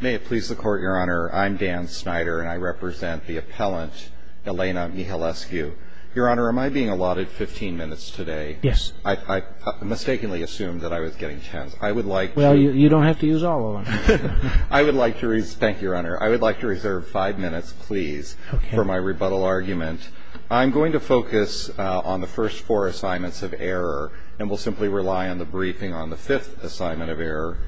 May it please the Court, Your Honor, I'm Dan Snyder and I represent the appellant Elena Mihailescu. Your Honor, am I being allotted 15 minutes today? Yes. I mistakenly assumed that I was getting 10. I would like to... Well, you don't have to use all of them. I would like to... Thank you, Your Honor. I would like to reserve five minutes, please, for my rebuttal argument. I'm going to focus on the first four assignments of error and will simply rely on the briefing on the fifth assignment of error.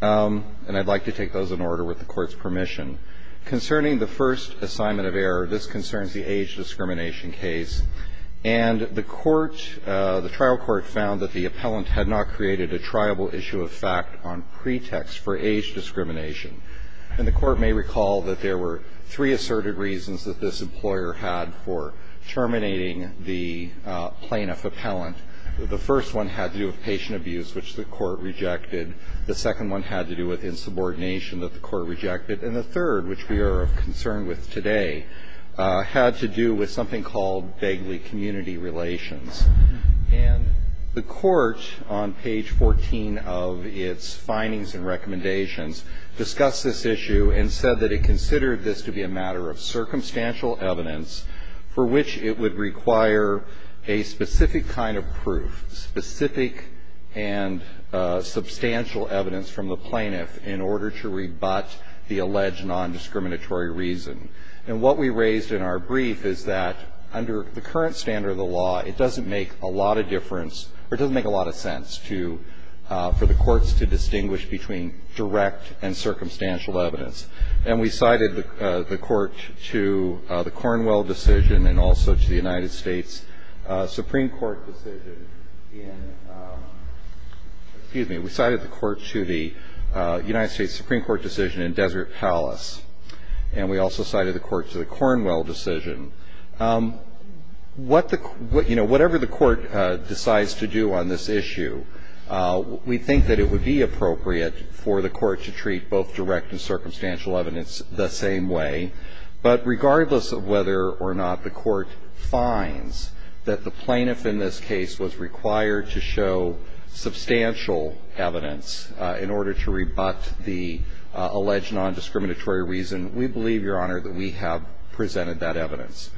And I'd like to take those in order with the Court's permission. Concerning the first assignment of error, this concerns the age discrimination case. And the trial court found that the appellant had not created a triable issue of fact on pretext for age discrimination. And the Court may recall that there were three asserted reasons that this employer had for terminating the plaintiff appellant. The first one had to do with patient abuse, which the Court rejected. The second one had to do with insubordination that the Court rejected. And the third, which we are of concern with today, had to do with something called vaguely community relations. And the Court, on page 14 of its findings and recommendations, discussed this issue and said that it considered this to be a matter of circumstantial evidence for which it would require a specific kind of proof, specific and substantial evidence from the plaintiff in order to rebut the alleged nondiscriminatory reason. And what we raised in our brief is that under the current standard of the law, it doesn't make a lot of difference or doesn't make a lot of sense to the courts to distinguish between direct and circumstantial evidence. And we cited the Court to the Cornwell decision and also to the United States Supreme Court decision in – excuse me. We cited the Court to the United States Supreme Court decision in Desert Palace. And we also cited the Court to the Cornwell decision. What the – you know, whatever the Court decides to do on this issue, we think that it would be appropriate for the Court to treat both direct and circumstantial evidence the same way. But regardless of whether or not the Court finds that the plaintiff in this case was required to show substantial evidence in order to rebut the alleged nondiscriminatory reason, we believe, Your Honor, that we have presented that evidence.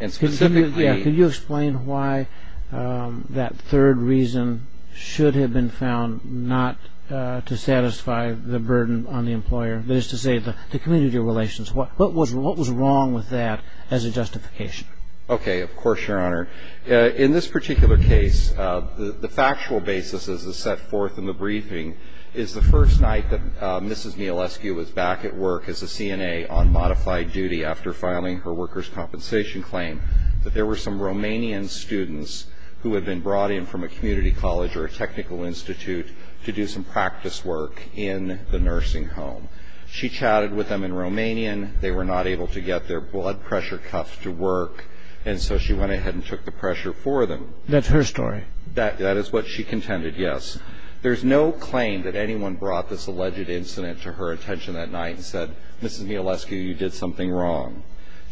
And specifically – Can you explain why that third reason should have been found not to satisfy the burden on the employer, that is to say the community relations? What was wrong with that as a justification? Okay. Of course, Your Honor. In this particular case, the factual basis, as is set forth in the briefing, is the first night that Mrs. Mielewski was back at work as a CNA on modified duty after filing her workers' compensation claim that there were some Romanian students who had been brought in from a community college or a technical institute to do some practice work in the nursing home. She chatted with them in Romanian. They were not able to get their blood pressure cuff to work. And so she went ahead and took the pressure for them. That's her story. That is what she contended, yes. There's no claim that anyone brought this alleged incident to her attention that night and said, Mrs. Mielewski, you did something wrong.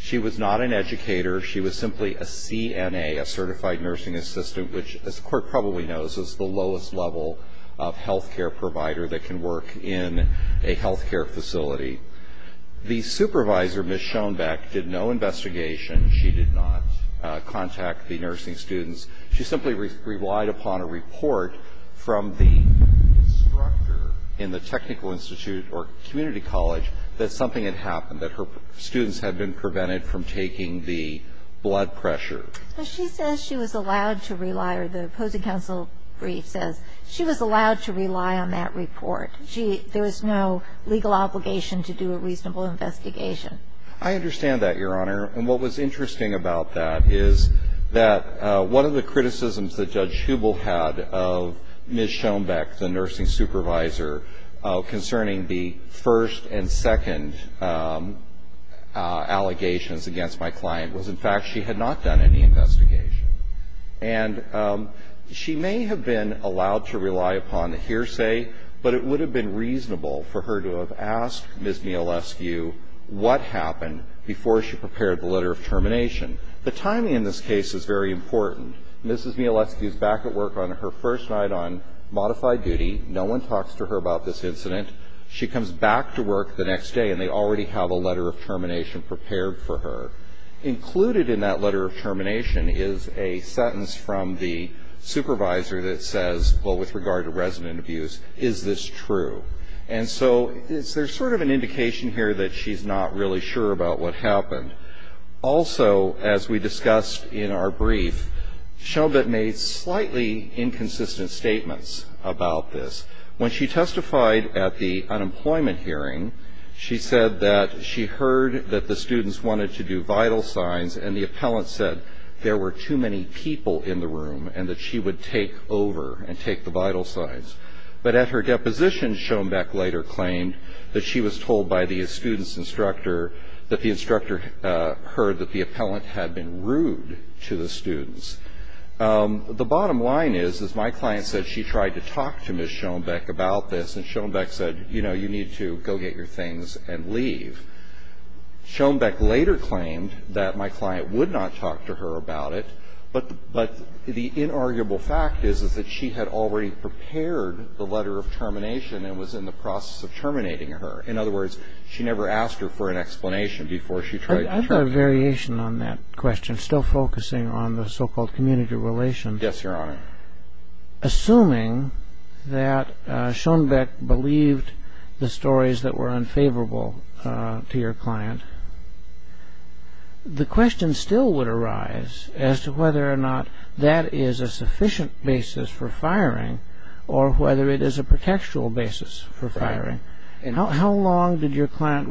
She was not an educator. She was simply a CNA, a certified nursing assistant, which as the Court probably knows is the lowest level of health care provider that can work in a health care facility. The supervisor, Ms. Schoenbeck, did no investigation. She did not contact the nursing students. She simply relied upon a report from the instructor in the technical institute or community college that something had happened, that her students had been prevented from taking the blood pressure. But she says she was allowed to rely, or the opposing counsel brief says she was allowed to rely on that report. There was no legal obligation to do a reasonable investigation. I understand that, Your Honor. And what was interesting about that is that one of the criticisms that Judge Hubel had of Ms. Schoenbeck, the nursing supervisor, concerning the first and second allegations against my client, was in fact she had not done any investigation. And she may have been allowed to rely upon the hearsay, but it would have been reasonable for her to have asked Ms. Mielewski what happened before she prepared the letter of termination. The timing in this case is very important. Ms. Mielewski is back at work on her first night on modified duty. No one talks to her about this incident. She comes back to work the next day, and they already have a letter of termination prepared for her. Included in that letter of termination is a sentence from the supervisor that says, well, with regard to resident abuse, is this true? And so there's sort of an indication here that she's not really sure about what happened. Also, as we discussed in our brief, Schoenbeck made slightly inconsistent statements about this. When she testified at the unemployment hearing, she said that she heard that the students wanted to do vital signs, and the appellant said there were too many people in the room and that she would take over and take the vital signs. But at her deposition, Schoenbeck later claimed that she was told by the student's instructor that the instructor heard that the appellant had been rude to the students. The bottom line is, as my client said, she tried to talk to Ms. Schoenbeck about this, and Schoenbeck said, you know, you need to go get your things and leave. Schoenbeck later claimed that my client would not talk to her about it, but the inarguable fact is that she had already prepared the letter of termination and was in the process of terminating her. In other words, she never asked her for an explanation before she tried to terminate her. I have a variation on that question, still focusing on the so-called community relation. Yes, Your Honor. Assuming that Schoenbeck believed the stories that were unfavorable to your client, the question still would arise as to whether or not that is a sufficient basis for firing or whether it is a pretextual basis for firing. How long had your client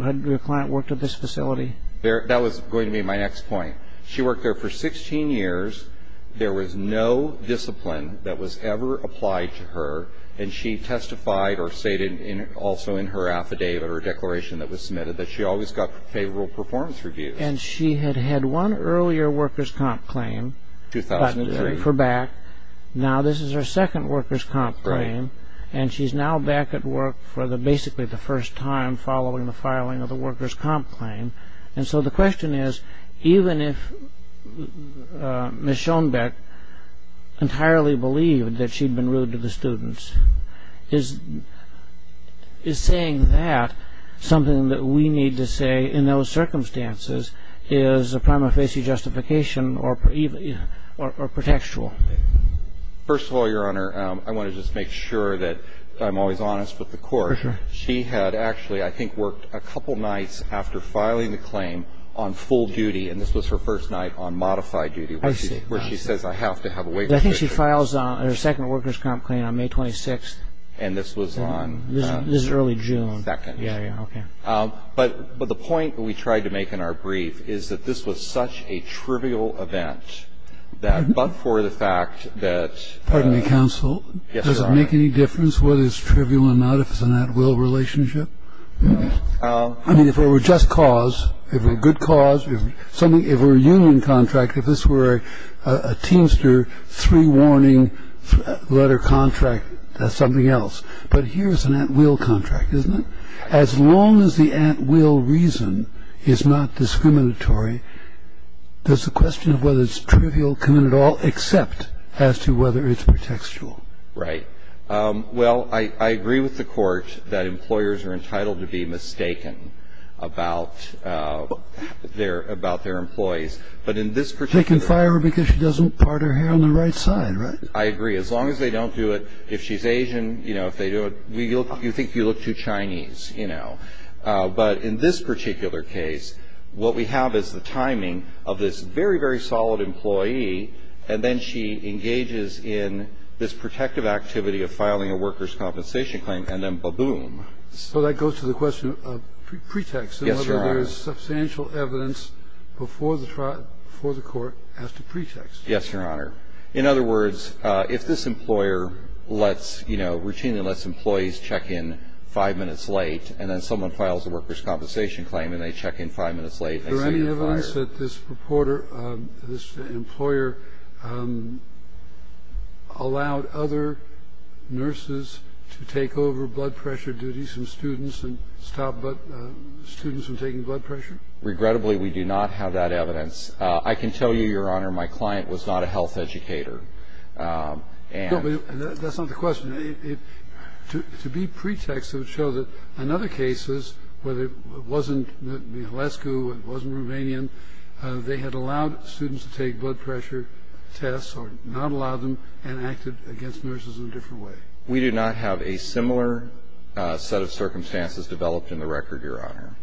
worked at this facility? That was going to be my next point. She worked there for 16 years. There was no discipline that was ever applied to her, and she testified or stated also in her affidavit or declaration that was submitted that she always got favorable performance reviews. And she had had one earlier workers' comp claim for back. Now this is her second workers' comp claim, and she's now back at work for basically the first time following the filing of the workers' comp claim. And so the question is, even if Ms. Schoenbeck entirely believed that she'd been rude to the students, is saying that something that we need to say in those circumstances is a prima facie justification or pretextual? First of all, Your Honor, I want to just make sure that I'm always honest with the court. Sure. She had actually, I think, worked a couple nights after filing the claim on full duty, and this was her first night on modified duty where she says, I have to have a waiver. I think she files her second workers' comp claim on May 26th. And this was on? This is early June. Second. Yeah, yeah, okay. But the point we tried to make in our brief is that this was such a trivial event that but for the fact that... Pardon me, counsel. Yes, Your Honor. Does it make any difference whether it's trivial or not if it's an at-will relationship? I mean, if it were just cause, if it were a good cause, if it were a union contract, if this were a Teamster three-warning letter contract, that's something else. But here's an at-will contract, isn't it? As long as the at-will reason is not discriminatory, does the question of whether it's trivial come in at all except as to whether it's pretextual? Right. Well, I agree with the Court that employers are entitled to be mistaken about their employees. But in this particular... They can fire her because she doesn't part her hair on the right side, right? I agree. As long as they don't do it. If she's Asian, you know, if they do it, you think you look too Chinese, you know. But in this particular case, what we have is the timing of this very, very solid employee, and then she engages in this protective activity of filing a workers' compensation claim, and then ba-boom. So that goes to the question of pretext. Yes, Your Honor. And whether there's substantial evidence before the court as to pretext. Yes, Your Honor. In other words, if this employer lets, you know, routinely lets employees check in five minutes late and then someone files a workers' compensation claim and they check in five minutes late... Is there any evidence that this reporter, this employer, allowed other nurses to take over blood pressure duties and students and stop students from taking blood pressure? Regrettably, we do not have that evidence. I can tell you, Your Honor, my client was not a health educator. And... No, but that's not the question. To be pretext, it would show that in other cases, whether it wasn't Halescu, it wasn't Rouvanian, they had allowed students to take blood pressure tests or not allowed them and acted against nurses in a different way. We do not have a similar set of circumstances developed in the record, Your Honor.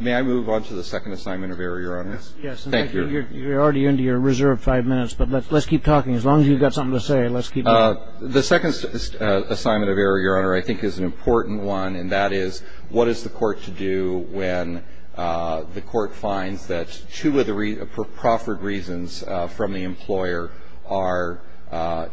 May I move on to the second assignment of error, Your Honor? Yes. Thank you. You're already into your reserve five minutes, but let's keep talking. As long as you've got something to say, let's keep going. The second assignment of error, Your Honor, I think is an important one, and that is what is the court to do when the court finds that two of the proffered reasons from the employer are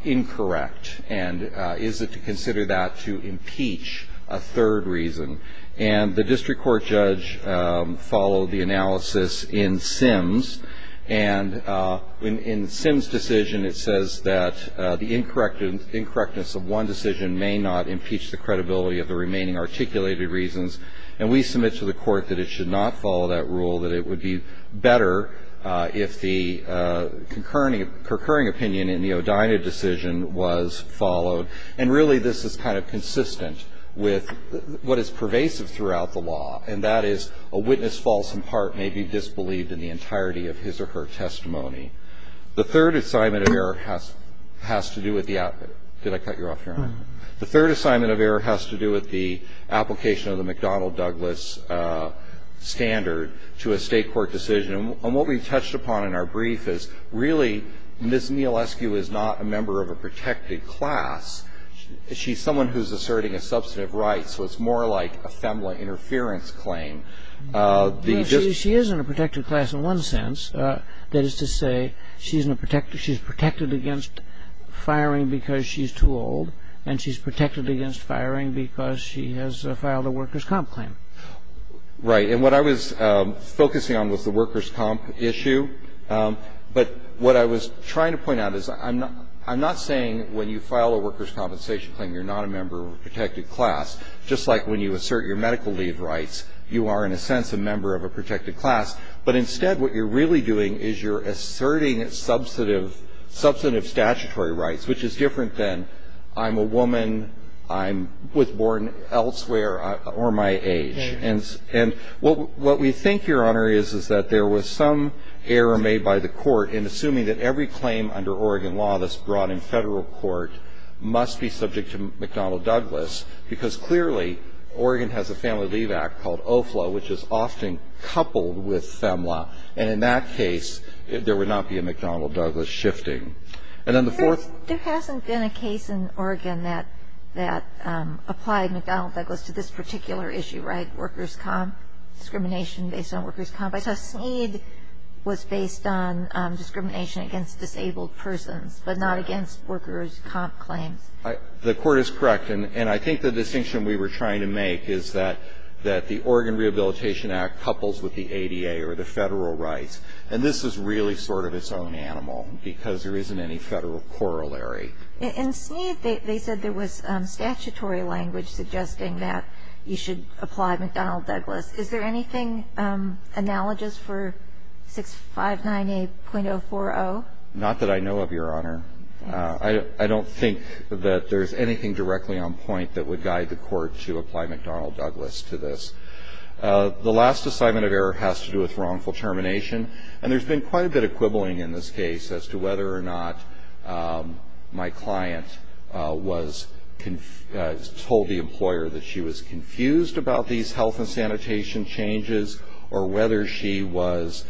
incorrect? And is it to consider that to impeach a third reason? And the district court judge followed the analysis in Sims. And in Sims' decision, it says that the incorrectness of one decision may not impeach the credibility of the remaining articulated reasons. And we submit to the court that it should not follow that rule, that it would be better if the concurring opinion in the O'Dina decision was followed. And really, this is kind of consistent with what is pervasive throughout the law, and that is a witness false, in part, may be disbelieved in the entirety of his or her testimony. The third assignment of error has to do with the application. Did I cut you off, Your Honor? No. The third assignment of error has to do with the application of the McDonnell-Douglas standard to a state court decision. And what we touched upon in our brief is really Ms. Nealescu is not a member of a protected class. She's someone who's asserting a substantive right. So it's more like a FEMLA interference claim. She is in a protected class in one sense. That is to say, she's protected against firing because she's too old, and she's protected against firing because she has filed a workers' comp claim. Right. And what I was focusing on was the workers' comp issue. But what I was trying to point out is I'm not saying when you file a workers' compensation claim, you're not a member of a protected class. Just like when you assert your medical leave rights, you are, in a sense, a member of a protected class. But instead, what you're really doing is you're asserting substantive statutory rights, which is different than I'm a woman, I was born elsewhere, or my age. And what we think, Your Honor, is that there was some error made by the court in assuming that every claim under Oregon law that's brought in federal court must be subject to McDonnell-Douglas because clearly Oregon has a Family Leave Act called OFLA, which is often coupled with FEMLA. And in that case, there would not be a McDonnell-Douglas shifting. There hasn't been a case in Oregon that applied McDonnell-Douglas to this particular issue, right? Kagan. Kagan. The court is correct. And I think the distinction we were trying to make is that the Oregon Rehabilitation Act couples with the ADA or the federal rights. And this is really sort of its own animal because there isn't any federal corollary. In Sneed, they said there was statutory language suggesting that you should apply McDonnell-Douglas Is there anything analogous for 6598.040? Not that I know of, Your Honor. I don't think that there's anything directly on point that would guide the court to apply McDonnell-Douglas to this. The last assignment of error has to do with wrongful termination. And there's been quite a bit of quibbling in this case as to whether or not my client told the employer that she was confused about these health and sanitation changes or whether she was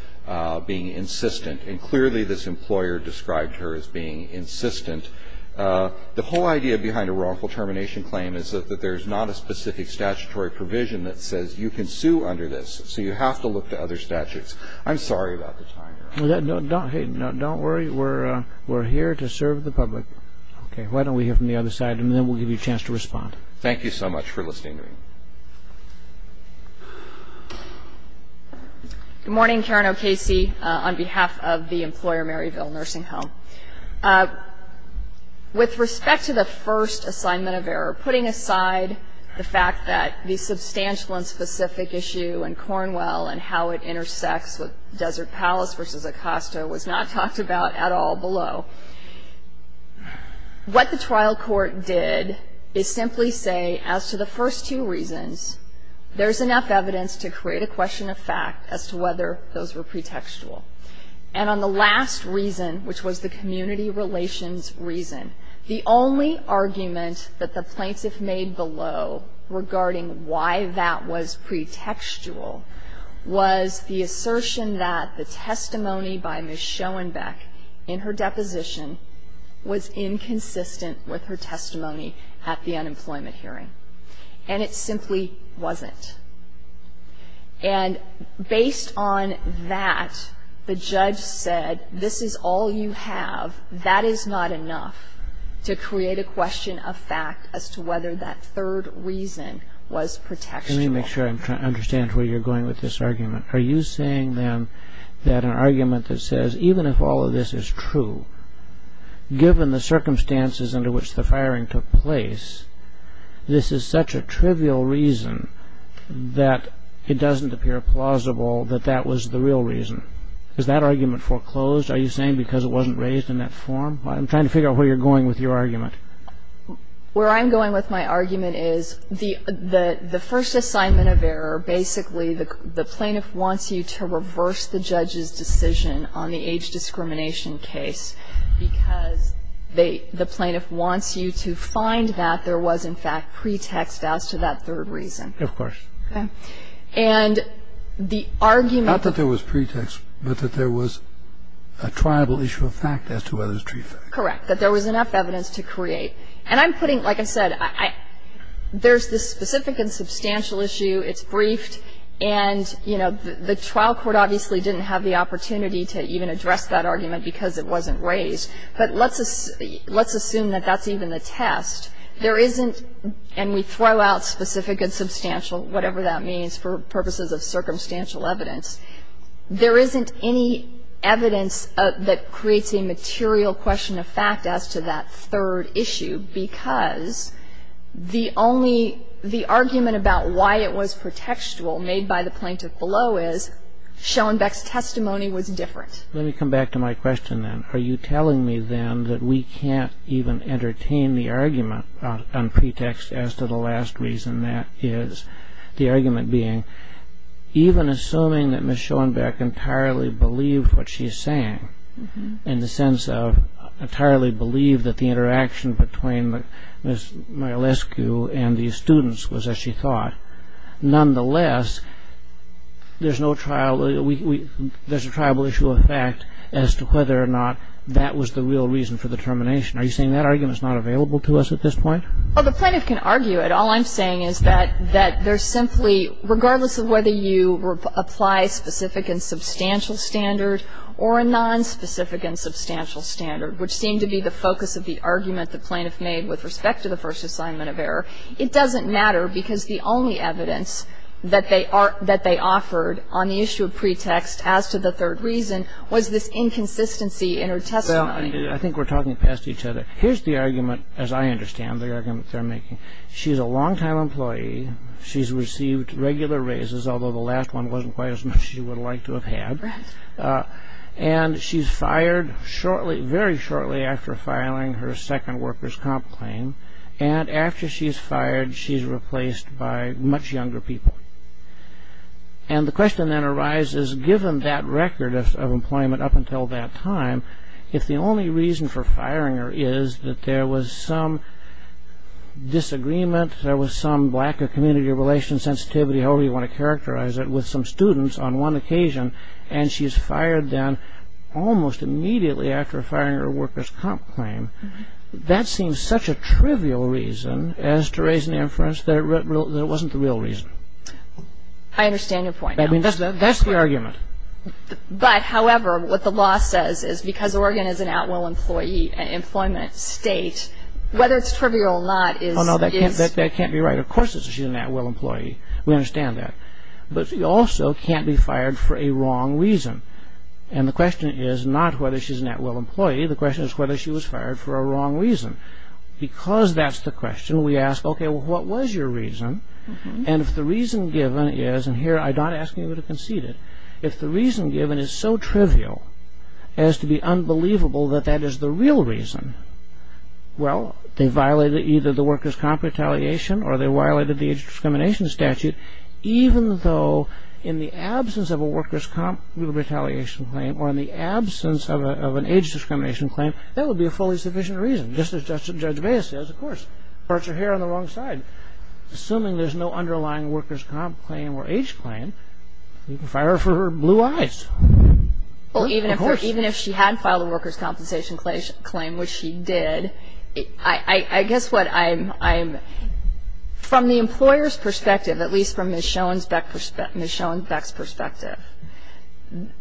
being insistent. And clearly this employer described her as being insistent. The whole idea behind a wrongful termination claim is that there's not a specific statutory provision that says you can sue under this. So you have to look to other statutes. I'm sorry about the time. Don't worry. We're here to serve the public. Why don't we hear from the other side and then we'll give you a chance to respond. Thank you so much for listening to me. Good morning, Karen O'Casey, on behalf of the employer Maryville Nursing Home. With respect to the first assignment of error, putting aside the fact that the substantial and specific issue in Cornwell and how it intersects with Desert Palace v. Acosta was not talked about at all below, what the trial court did is simply say as to the first two reasons, there's enough evidence to create a question of fact as to whether those were pretextual. And on the last reason, which was the community relations reason, the only argument that the plaintiff made below regarding why that was pretextual was the assertion that the testimony by Ms. Schoenbeck in her deposition was inconsistent with her testimony at the unemployment hearing. And it simply wasn't. And based on that, the judge said, this is all you have. That is not enough to create a question of fact as to whether that third reason was pretextual. Let me make sure I understand where you're going with this argument. Are you saying, then, that an argument that says, even if all of this is true, given the circumstances under which the firing took place, this is such a trivial reason that it doesn't appear plausible that that was the real reason? Is that argument foreclosed, are you saying, because it wasn't raised in that form? I'm trying to figure out where you're going with your argument. Where I'm going with my argument is the first assignment of error, basically, the plaintiff wants you to reverse the judge's decision on the age discrimination case because the plaintiff wants you to find that there was, in fact, pretext as to that third reason. Of course. Okay. And the argument that there was pretext, but that there was a triable issue of fact as to whether it was true fact. Correct. That there was enough evidence to create. And I'm putting, like I said, there's this specific and substantial issue. It's briefed. And, you know, the trial court obviously didn't have the opportunity to even address that argument because it wasn't raised. But let's assume that that's even the test. There isn't, and we throw out specific and substantial, whatever that means, for purposes of circumstantial evidence. There isn't any evidence that creates a material question of fact as to that third issue because the only, the argument about why it was pretextual made by the plaintiff below is Schoenbeck's testimony was different. Let me come back to my question then. Are you telling me then that we can't even entertain the argument on pretext as to the last reason that is, the argument being, even assuming that Ms. Schoenbeck entirely believed what she's saying, in the sense of entirely believed that the interaction between Ms. Mayalescu and the students was as she thought, nonetheless, there's no trial, there's a triable issue of fact as to whether or not that was the real reason for the termination. Are you saying that argument's not available to us at this point? Well, the plaintiff can argue it. All I'm saying is that there's simply, regardless of whether you apply specific and substantial standard or a nonspecific and substantial standard, which seem to be the focus of the argument the plaintiff made with respect to the first assignment of error, it doesn't matter because the only evidence that they offered on the issue of pretext as to the third reason was this inconsistency in her testimony. Well, I think we're talking past each other. Here's the argument, as I understand the argument they're making. She's a long-time employee. She's received regular raises, although the last one wasn't quite as much she would like to have had. Right. And she's fired shortly, very shortly after filing her second worker's comp claim. And after she's fired, she's replaced by much younger people. And the question then arises, given that record of employment up until that time, if the only reason for firing her is that there was some disagreement, there was some lack of community or relation sensitivity, however you want to characterize it, with some students on one occasion, and she's fired then almost immediately after firing her worker's comp claim, that seems such a trivial reason as to raise an inference that it wasn't the real reason. I understand your point. I mean, that's the argument. But, however, what the law says is because Oregon is an at-will employee, an employment state, whether it's trivial or not is... Oh, no, that can't be right. Of course she's an at-will employee. We understand that. But she also can't be fired for a wrong reason. And the question is not whether she's an at-will employee. The question is whether she was fired for a wrong reason. Because that's the question, we ask, okay, well, what was your reason? And if the reason given is, and here I'm not asking you to concede it, if the reason given is so trivial as to be unbelievable that that is the real reason, well, they violated either the worker's comp retaliation or they violated the age discrimination statute, even though in the absence of a worker's comp retaliation claim or in the absence of an age discrimination claim, that would be a fully sufficient reason. Just as Judge Baez says, of course, parts are here on the wrong side. But assuming there's no underlying worker's comp claim or age claim, you can fire her for blue eyes. Well, even if she had filed a worker's compensation claim, which she did, I guess what I'm... From the employer's perspective, at least from Ms. Schoenbeck's perspective,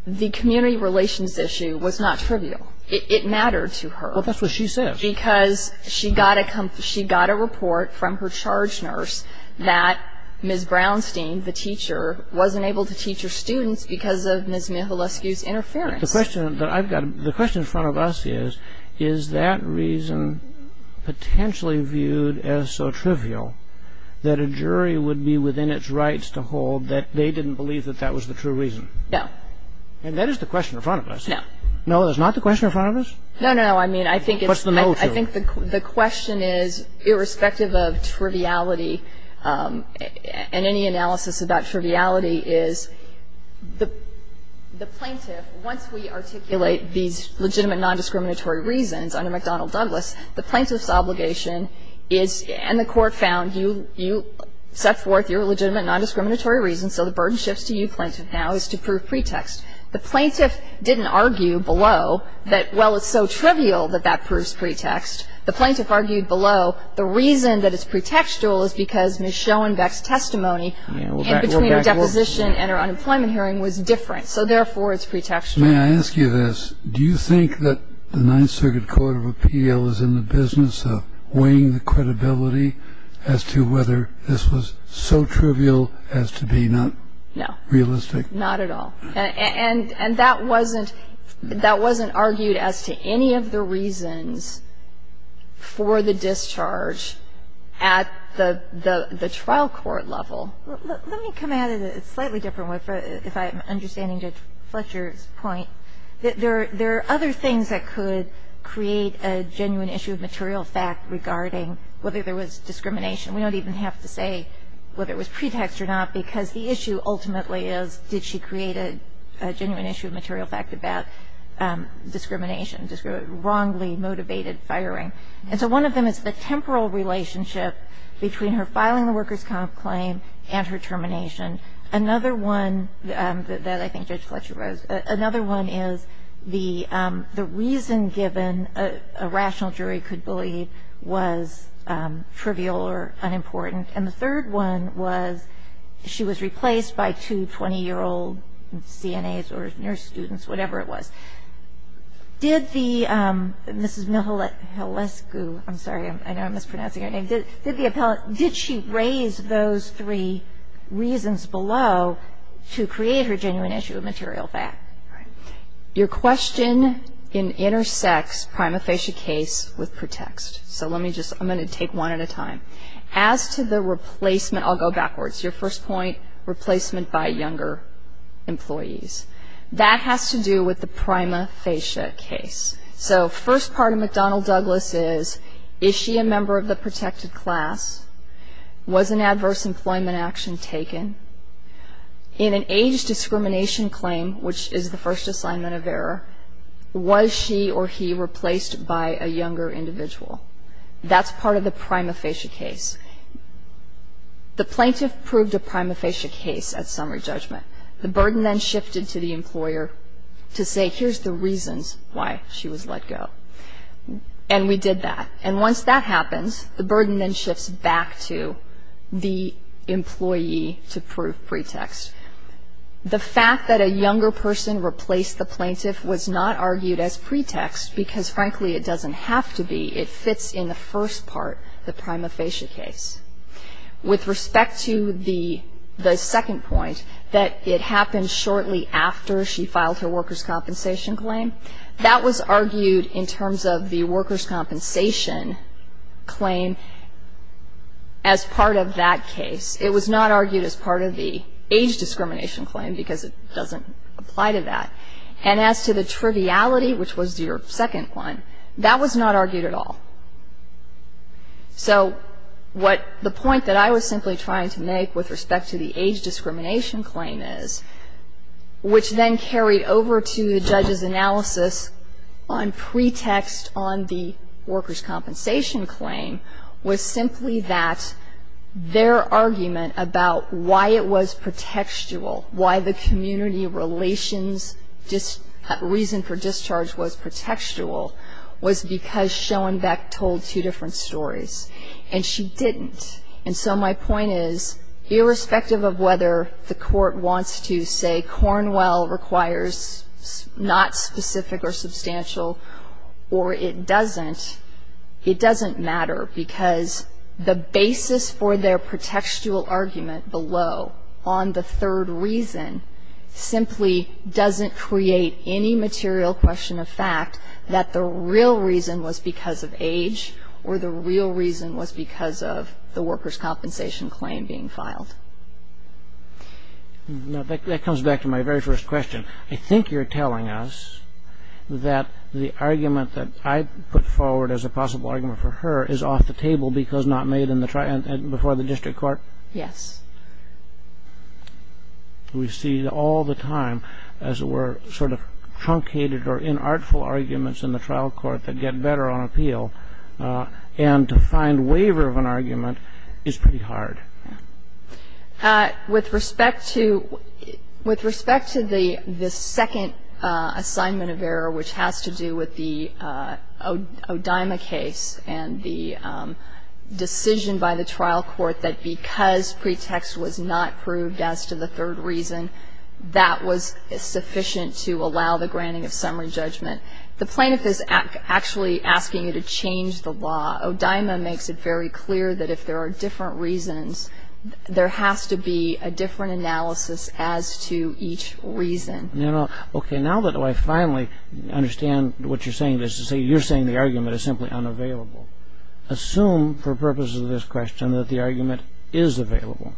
the community relations issue was not trivial. It mattered to her. Well, that's what she says. Because she got a report from her charge nurse that Ms. Brownstein, the teacher, wasn't able to teach her students because of Ms. Michalewski's interference. The question in front of us is, is that reason potentially viewed as so trivial that a jury would be within its rights to hold that they didn't believe that that was the true reason? No. And that is the question in front of us. No. No, that's not the question in front of us? No, no, I mean, I think it's... What's the motive? I think the question is, irrespective of triviality and any analysis about triviality, is the plaintiff, once we articulate these legitimate nondiscriminatory reasons under McDonnell-Douglas, the plaintiff's obligation is, and the Court found you set forth your legitimate nondiscriminatory reasons, so the burden shifts to you, plaintiff, now is to prove pretext. The plaintiff didn't argue below that, well, it's so trivial that that proves pretext. The plaintiff argued below the reason that it's pretextual is because Ms. Schoenbeck's testimony in between her deposition and her unemployment hearing was different, so therefore it's pretextual. May I ask you this? Do you think that the Ninth Circuit Court of Appeal is in the business of weighing the credibility as to whether this was so trivial as to be not realistic? No, not at all. And that wasn't argued as to any of the reasons for the discharge at the trial court level. Let me come at it a slightly different way, if I'm understanding Judge Fletcher's point, that there are other things that could create a genuine issue of material fact regarding whether there was discrimination. We don't even have to say whether it was pretext or not because the issue ultimately is did she create a genuine issue of material fact about discrimination, wrongly motivated firing. And so one of them is the temporal relationship between her filing the workers' comp claim and her termination. Another one that I think Judge Fletcher raised, another one is the reason given a third one was she was replaced by two 20-year-old CNAs or nurse students, whatever it was. Did the Mrs. Mihalescu, I'm sorry, I know I'm mispronouncing her name. Did the appellate, did she raise those three reasons below to create her genuine issue of material fact? Your question intersects prima facie case with pretext. So let me just, I'm going to take one at a time. As to the replacement, I'll go backwards. Your first point, replacement by younger employees. That has to do with the prima facie case. So first part of McDonnell-Douglas is, is she a member of the protected class? Was an adverse employment action taken? In an age discrimination claim, which is the first assignment of error, was she or he replaced by a younger individual? That's part of the prima facie case. The plaintiff proved a prima facie case at summary judgment. The burden then shifted to the employer to say, here's the reasons why she was let go. And we did that. And once that happens, the burden then shifts back to the employee to prove pretext. The fact that a younger person replaced the plaintiff was not argued as pretext because, frankly, it doesn't have to be. It fits in the first part, the prima facie case. With respect to the second point, that it happened shortly after she filed her workers' compensation claim, that was argued in terms of the workers' compensation claim as part of that case. It was not argued as part of the age discrimination claim because it doesn't apply to that. And as to the triviality, which was your second one, that was not argued at all. So what the point that I was simply trying to make with respect to the age discrimination claim is, which then carried over to the judge's analysis on pretext on the workers' compensation claim, was simply that their argument about why it was pretextual, why the community relations reason for discharge was pretextual, was because Schoenbeck told two different stories. And she didn't. And so my point is, irrespective of whether the court wants to say Cornwell requires not specific or substantial or it doesn't, it doesn't matter because the basis for their pretextual argument below on the third reason simply doesn't create any material question of fact that the real reason was because of age or the real reason was because of the workers' compensation claim being filed. Now, that comes back to my very first question. I think you're telling us that the argument that I put forward as a possible argument for her is off the table because not made before the district court? Yes. We see all the time, as it were, sort of truncated or inartful arguments in the trial court that get better on appeal. And to find waiver of an argument is pretty hard. With respect to the second assignment of error, which has to do with the O'Dyma case and the decision by the trial court that because pretext was not proved as to the third reason, that was sufficient to allow the granting of summary judgment. The plaintiff is actually asking you to change the law. O'Dyma makes it very clear that if there are different reasons, there has to be a different analysis as to each reason. Okay. Now that I finally understand what you're saying, you're saying the argument is simply unavailable. Assume for purposes of this question that the argument is available.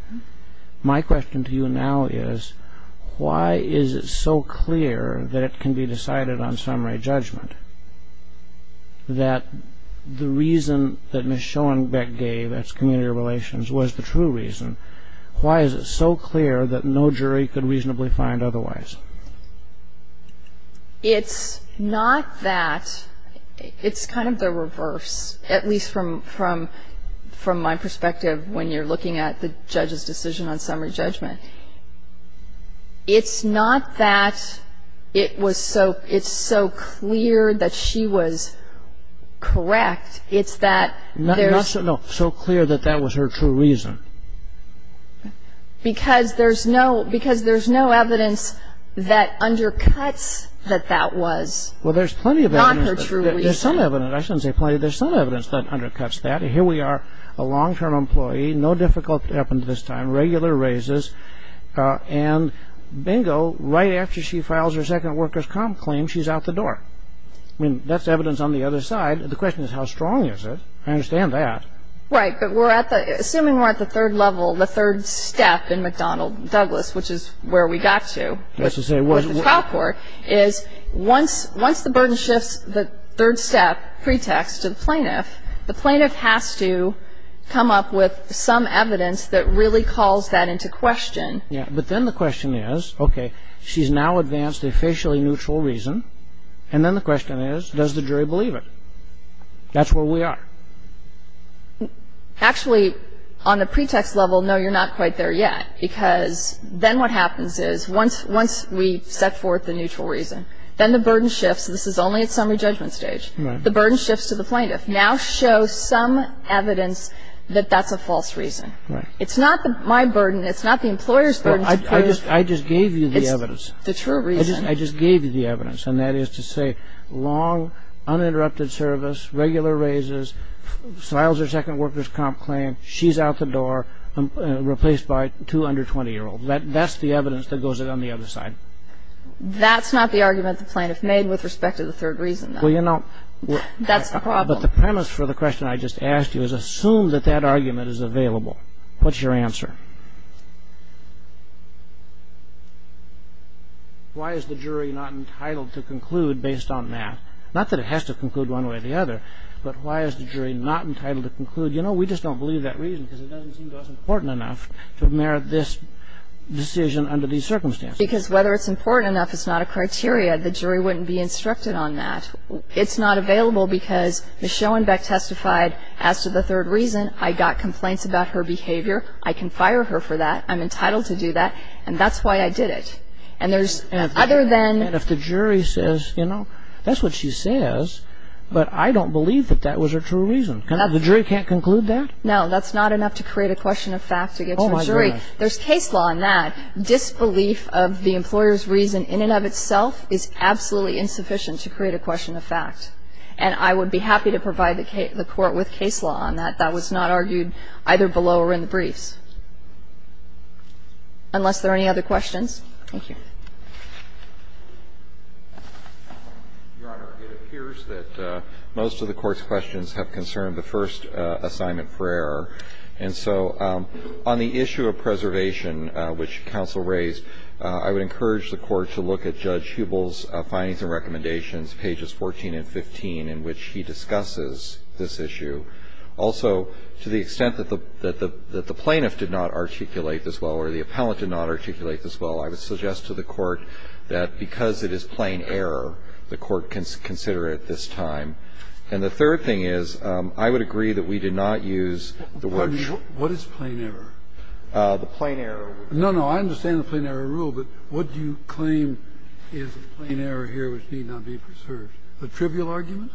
My question to you now is why is it so clear that it can be decided on summary judgment that the reason that Ms. Schoenbeck gave, that's community relations, was the true reason? Why is it so clear that no jury could reasonably find otherwise? It's not that. It's kind of the reverse, at least from my perspective when you're looking at the judge's decision on summary judgment. It's not that it's so clear that she was correct. It's that there's no... Not so clear that that was her true reason. Because there's no evidence that undercuts that that was not her true reason. Well, there's plenty of evidence. There's some evidence. I shouldn't say plenty. There's some evidence that undercuts that. Here we are, a long-term employee, no difficult up until this time, regular raises, and bingo, right after she files her second worker's comp claim, she's out the door. I mean, that's evidence on the other side. The question is how strong is it? I understand that. Right. But assuming we're at the third level, the third step in McDonnell-Douglas, which is where we got to with the trial court, is once the burden shifts the third step pretext to the plaintiff, the plaintiff has to come up with some evidence that really calls that into question. Yeah. But then the question is, okay, she's now advanced a facially neutral reason, and then the question is, does the jury believe it? That's where we are. Actually, on the pretext level, no, you're not quite there yet, because then what happens is once we set forth the neutral reason, then the burden shifts. This is only at summary judgment stage. Right. The burden shifts to the plaintiff. Now show some evidence that that's a false reason. Right. It's not my burden. It's not the employer's burden. I just gave you the evidence. It's the true reason. I just gave you the evidence. And that is to say long, uninterrupted service, regular raises, files her second worker's comp claim, she's out the door, replaced by two under 20-year-olds. That's the evidence that goes in on the other side. That's not the argument the plaintiff made with respect to the third reason, though. Well, you know. That's the problem. But the premise for the question I just asked you is assume that that argument is available. What's your answer? Why is the jury not entitled to conclude based on that? Not that it has to conclude one way or the other, but why is the jury not entitled to conclude, you know, we just don't believe that reason because it doesn't seem to us important enough to merit this decision under these circumstances. Because whether it's important enough is not a criteria. The jury wouldn't be instructed on that. It's not available because Ms. Schoenbeck testified as to the third reason. I got complaints about her behavior. I can fire her for that. I'm entitled to do that. And that's why I did it. And there's other than. And if the jury says, you know, that's what she says, but I don't believe that that was her true reason. The jury can't conclude that? No, that's not enough to create a question of fact to get to a jury. There's case law on that. Disbelief of the employer's reason in and of itself is absolutely insufficient to create a question of fact. And I would be happy to provide the court with case law on that. I'm delighted to be here. I didn't realize that that was not argued either below or in the briefs, unless there are any other questions. Thank you. Your Honor, it appears that most of the Court's questions have concerned the first assignment for error. So to the extent that the plaintiff did not articulate this well or the appellant did not articulate this well, I would suggest to the Court that because it is plain error, the Court can consider it at this time. And the third thing is, I would agree that we did not use the word --" What is plain error? The plain error rule. No, no, I understand the plain error rule, but what do you claim is the plain error here which need not be preserved? A trivial argument?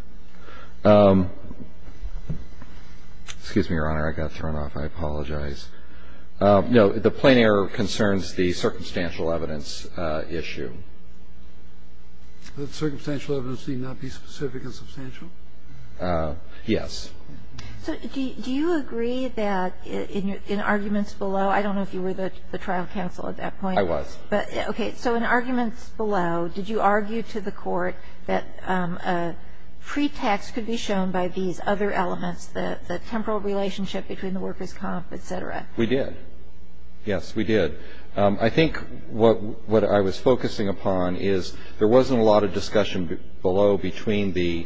Excuse me, Your Honor. I got thrown off. I apologize. No, the plain error concerns the circumstantial evidence issue. The circumstantial evidence need not be specific and substantial? Yes. So do you agree that in arguments below, I don't know if you were the trial counsel at that point. I was. Okay. So in arguments below, did you argue to the Court that a pretext could be shown by these other elements, the temporal relationship between the workers' comp, et cetera? We did. Yes, we did. I think what I was focusing upon is there wasn't a lot of discussion below between the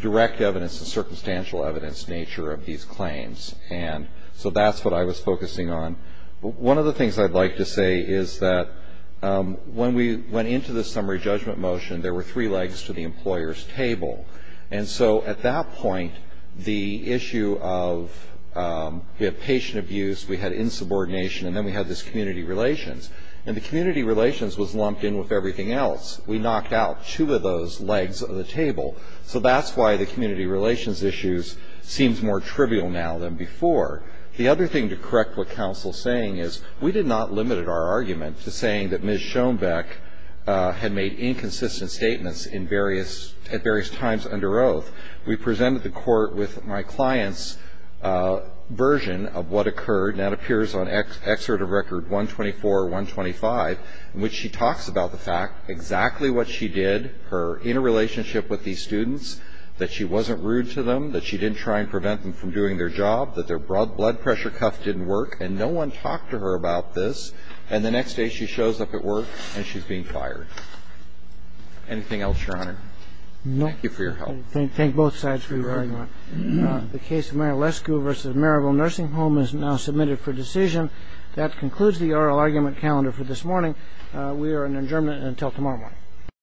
direct evidence and circumstantial evidence nature of these claims. And so that's what I was focusing on. One of the things I'd like to say is that when we went into the summary judgment motion, there were three legs to the employer's table. And so at that point, the issue of patient abuse, we had insubordination, and then we had this community relations. And the community relations was lumped in with everything else. We knocked out two of those legs of the table. So that's why the community relations issues seems more trivial now than before. The other thing to correct what counsel is saying is we did not limit our argument to saying that Ms. Schoenbeck had made inconsistent statements in various at various times under oath. We presented the Court with my client's version of what occurred, and that appears on Excerpt of Record 124, 125, in which she talks about the fact exactly what she did, her interrelationship with these students, that she wasn't rude to them, that she didn't try and prevent them from doing their job, that their blood pressure cuff didn't work, and no one talked to her about this. And the next day, she shows up at work, and she's being fired. Anything else, Your Honor? Thank you for your help. I thank both sides for your argument. The case of Mary Lesko v. Maryville Nursing Home is now submitted for decision. That concludes the oral argument calendar for this morning. We are adjourned until tomorrow morning.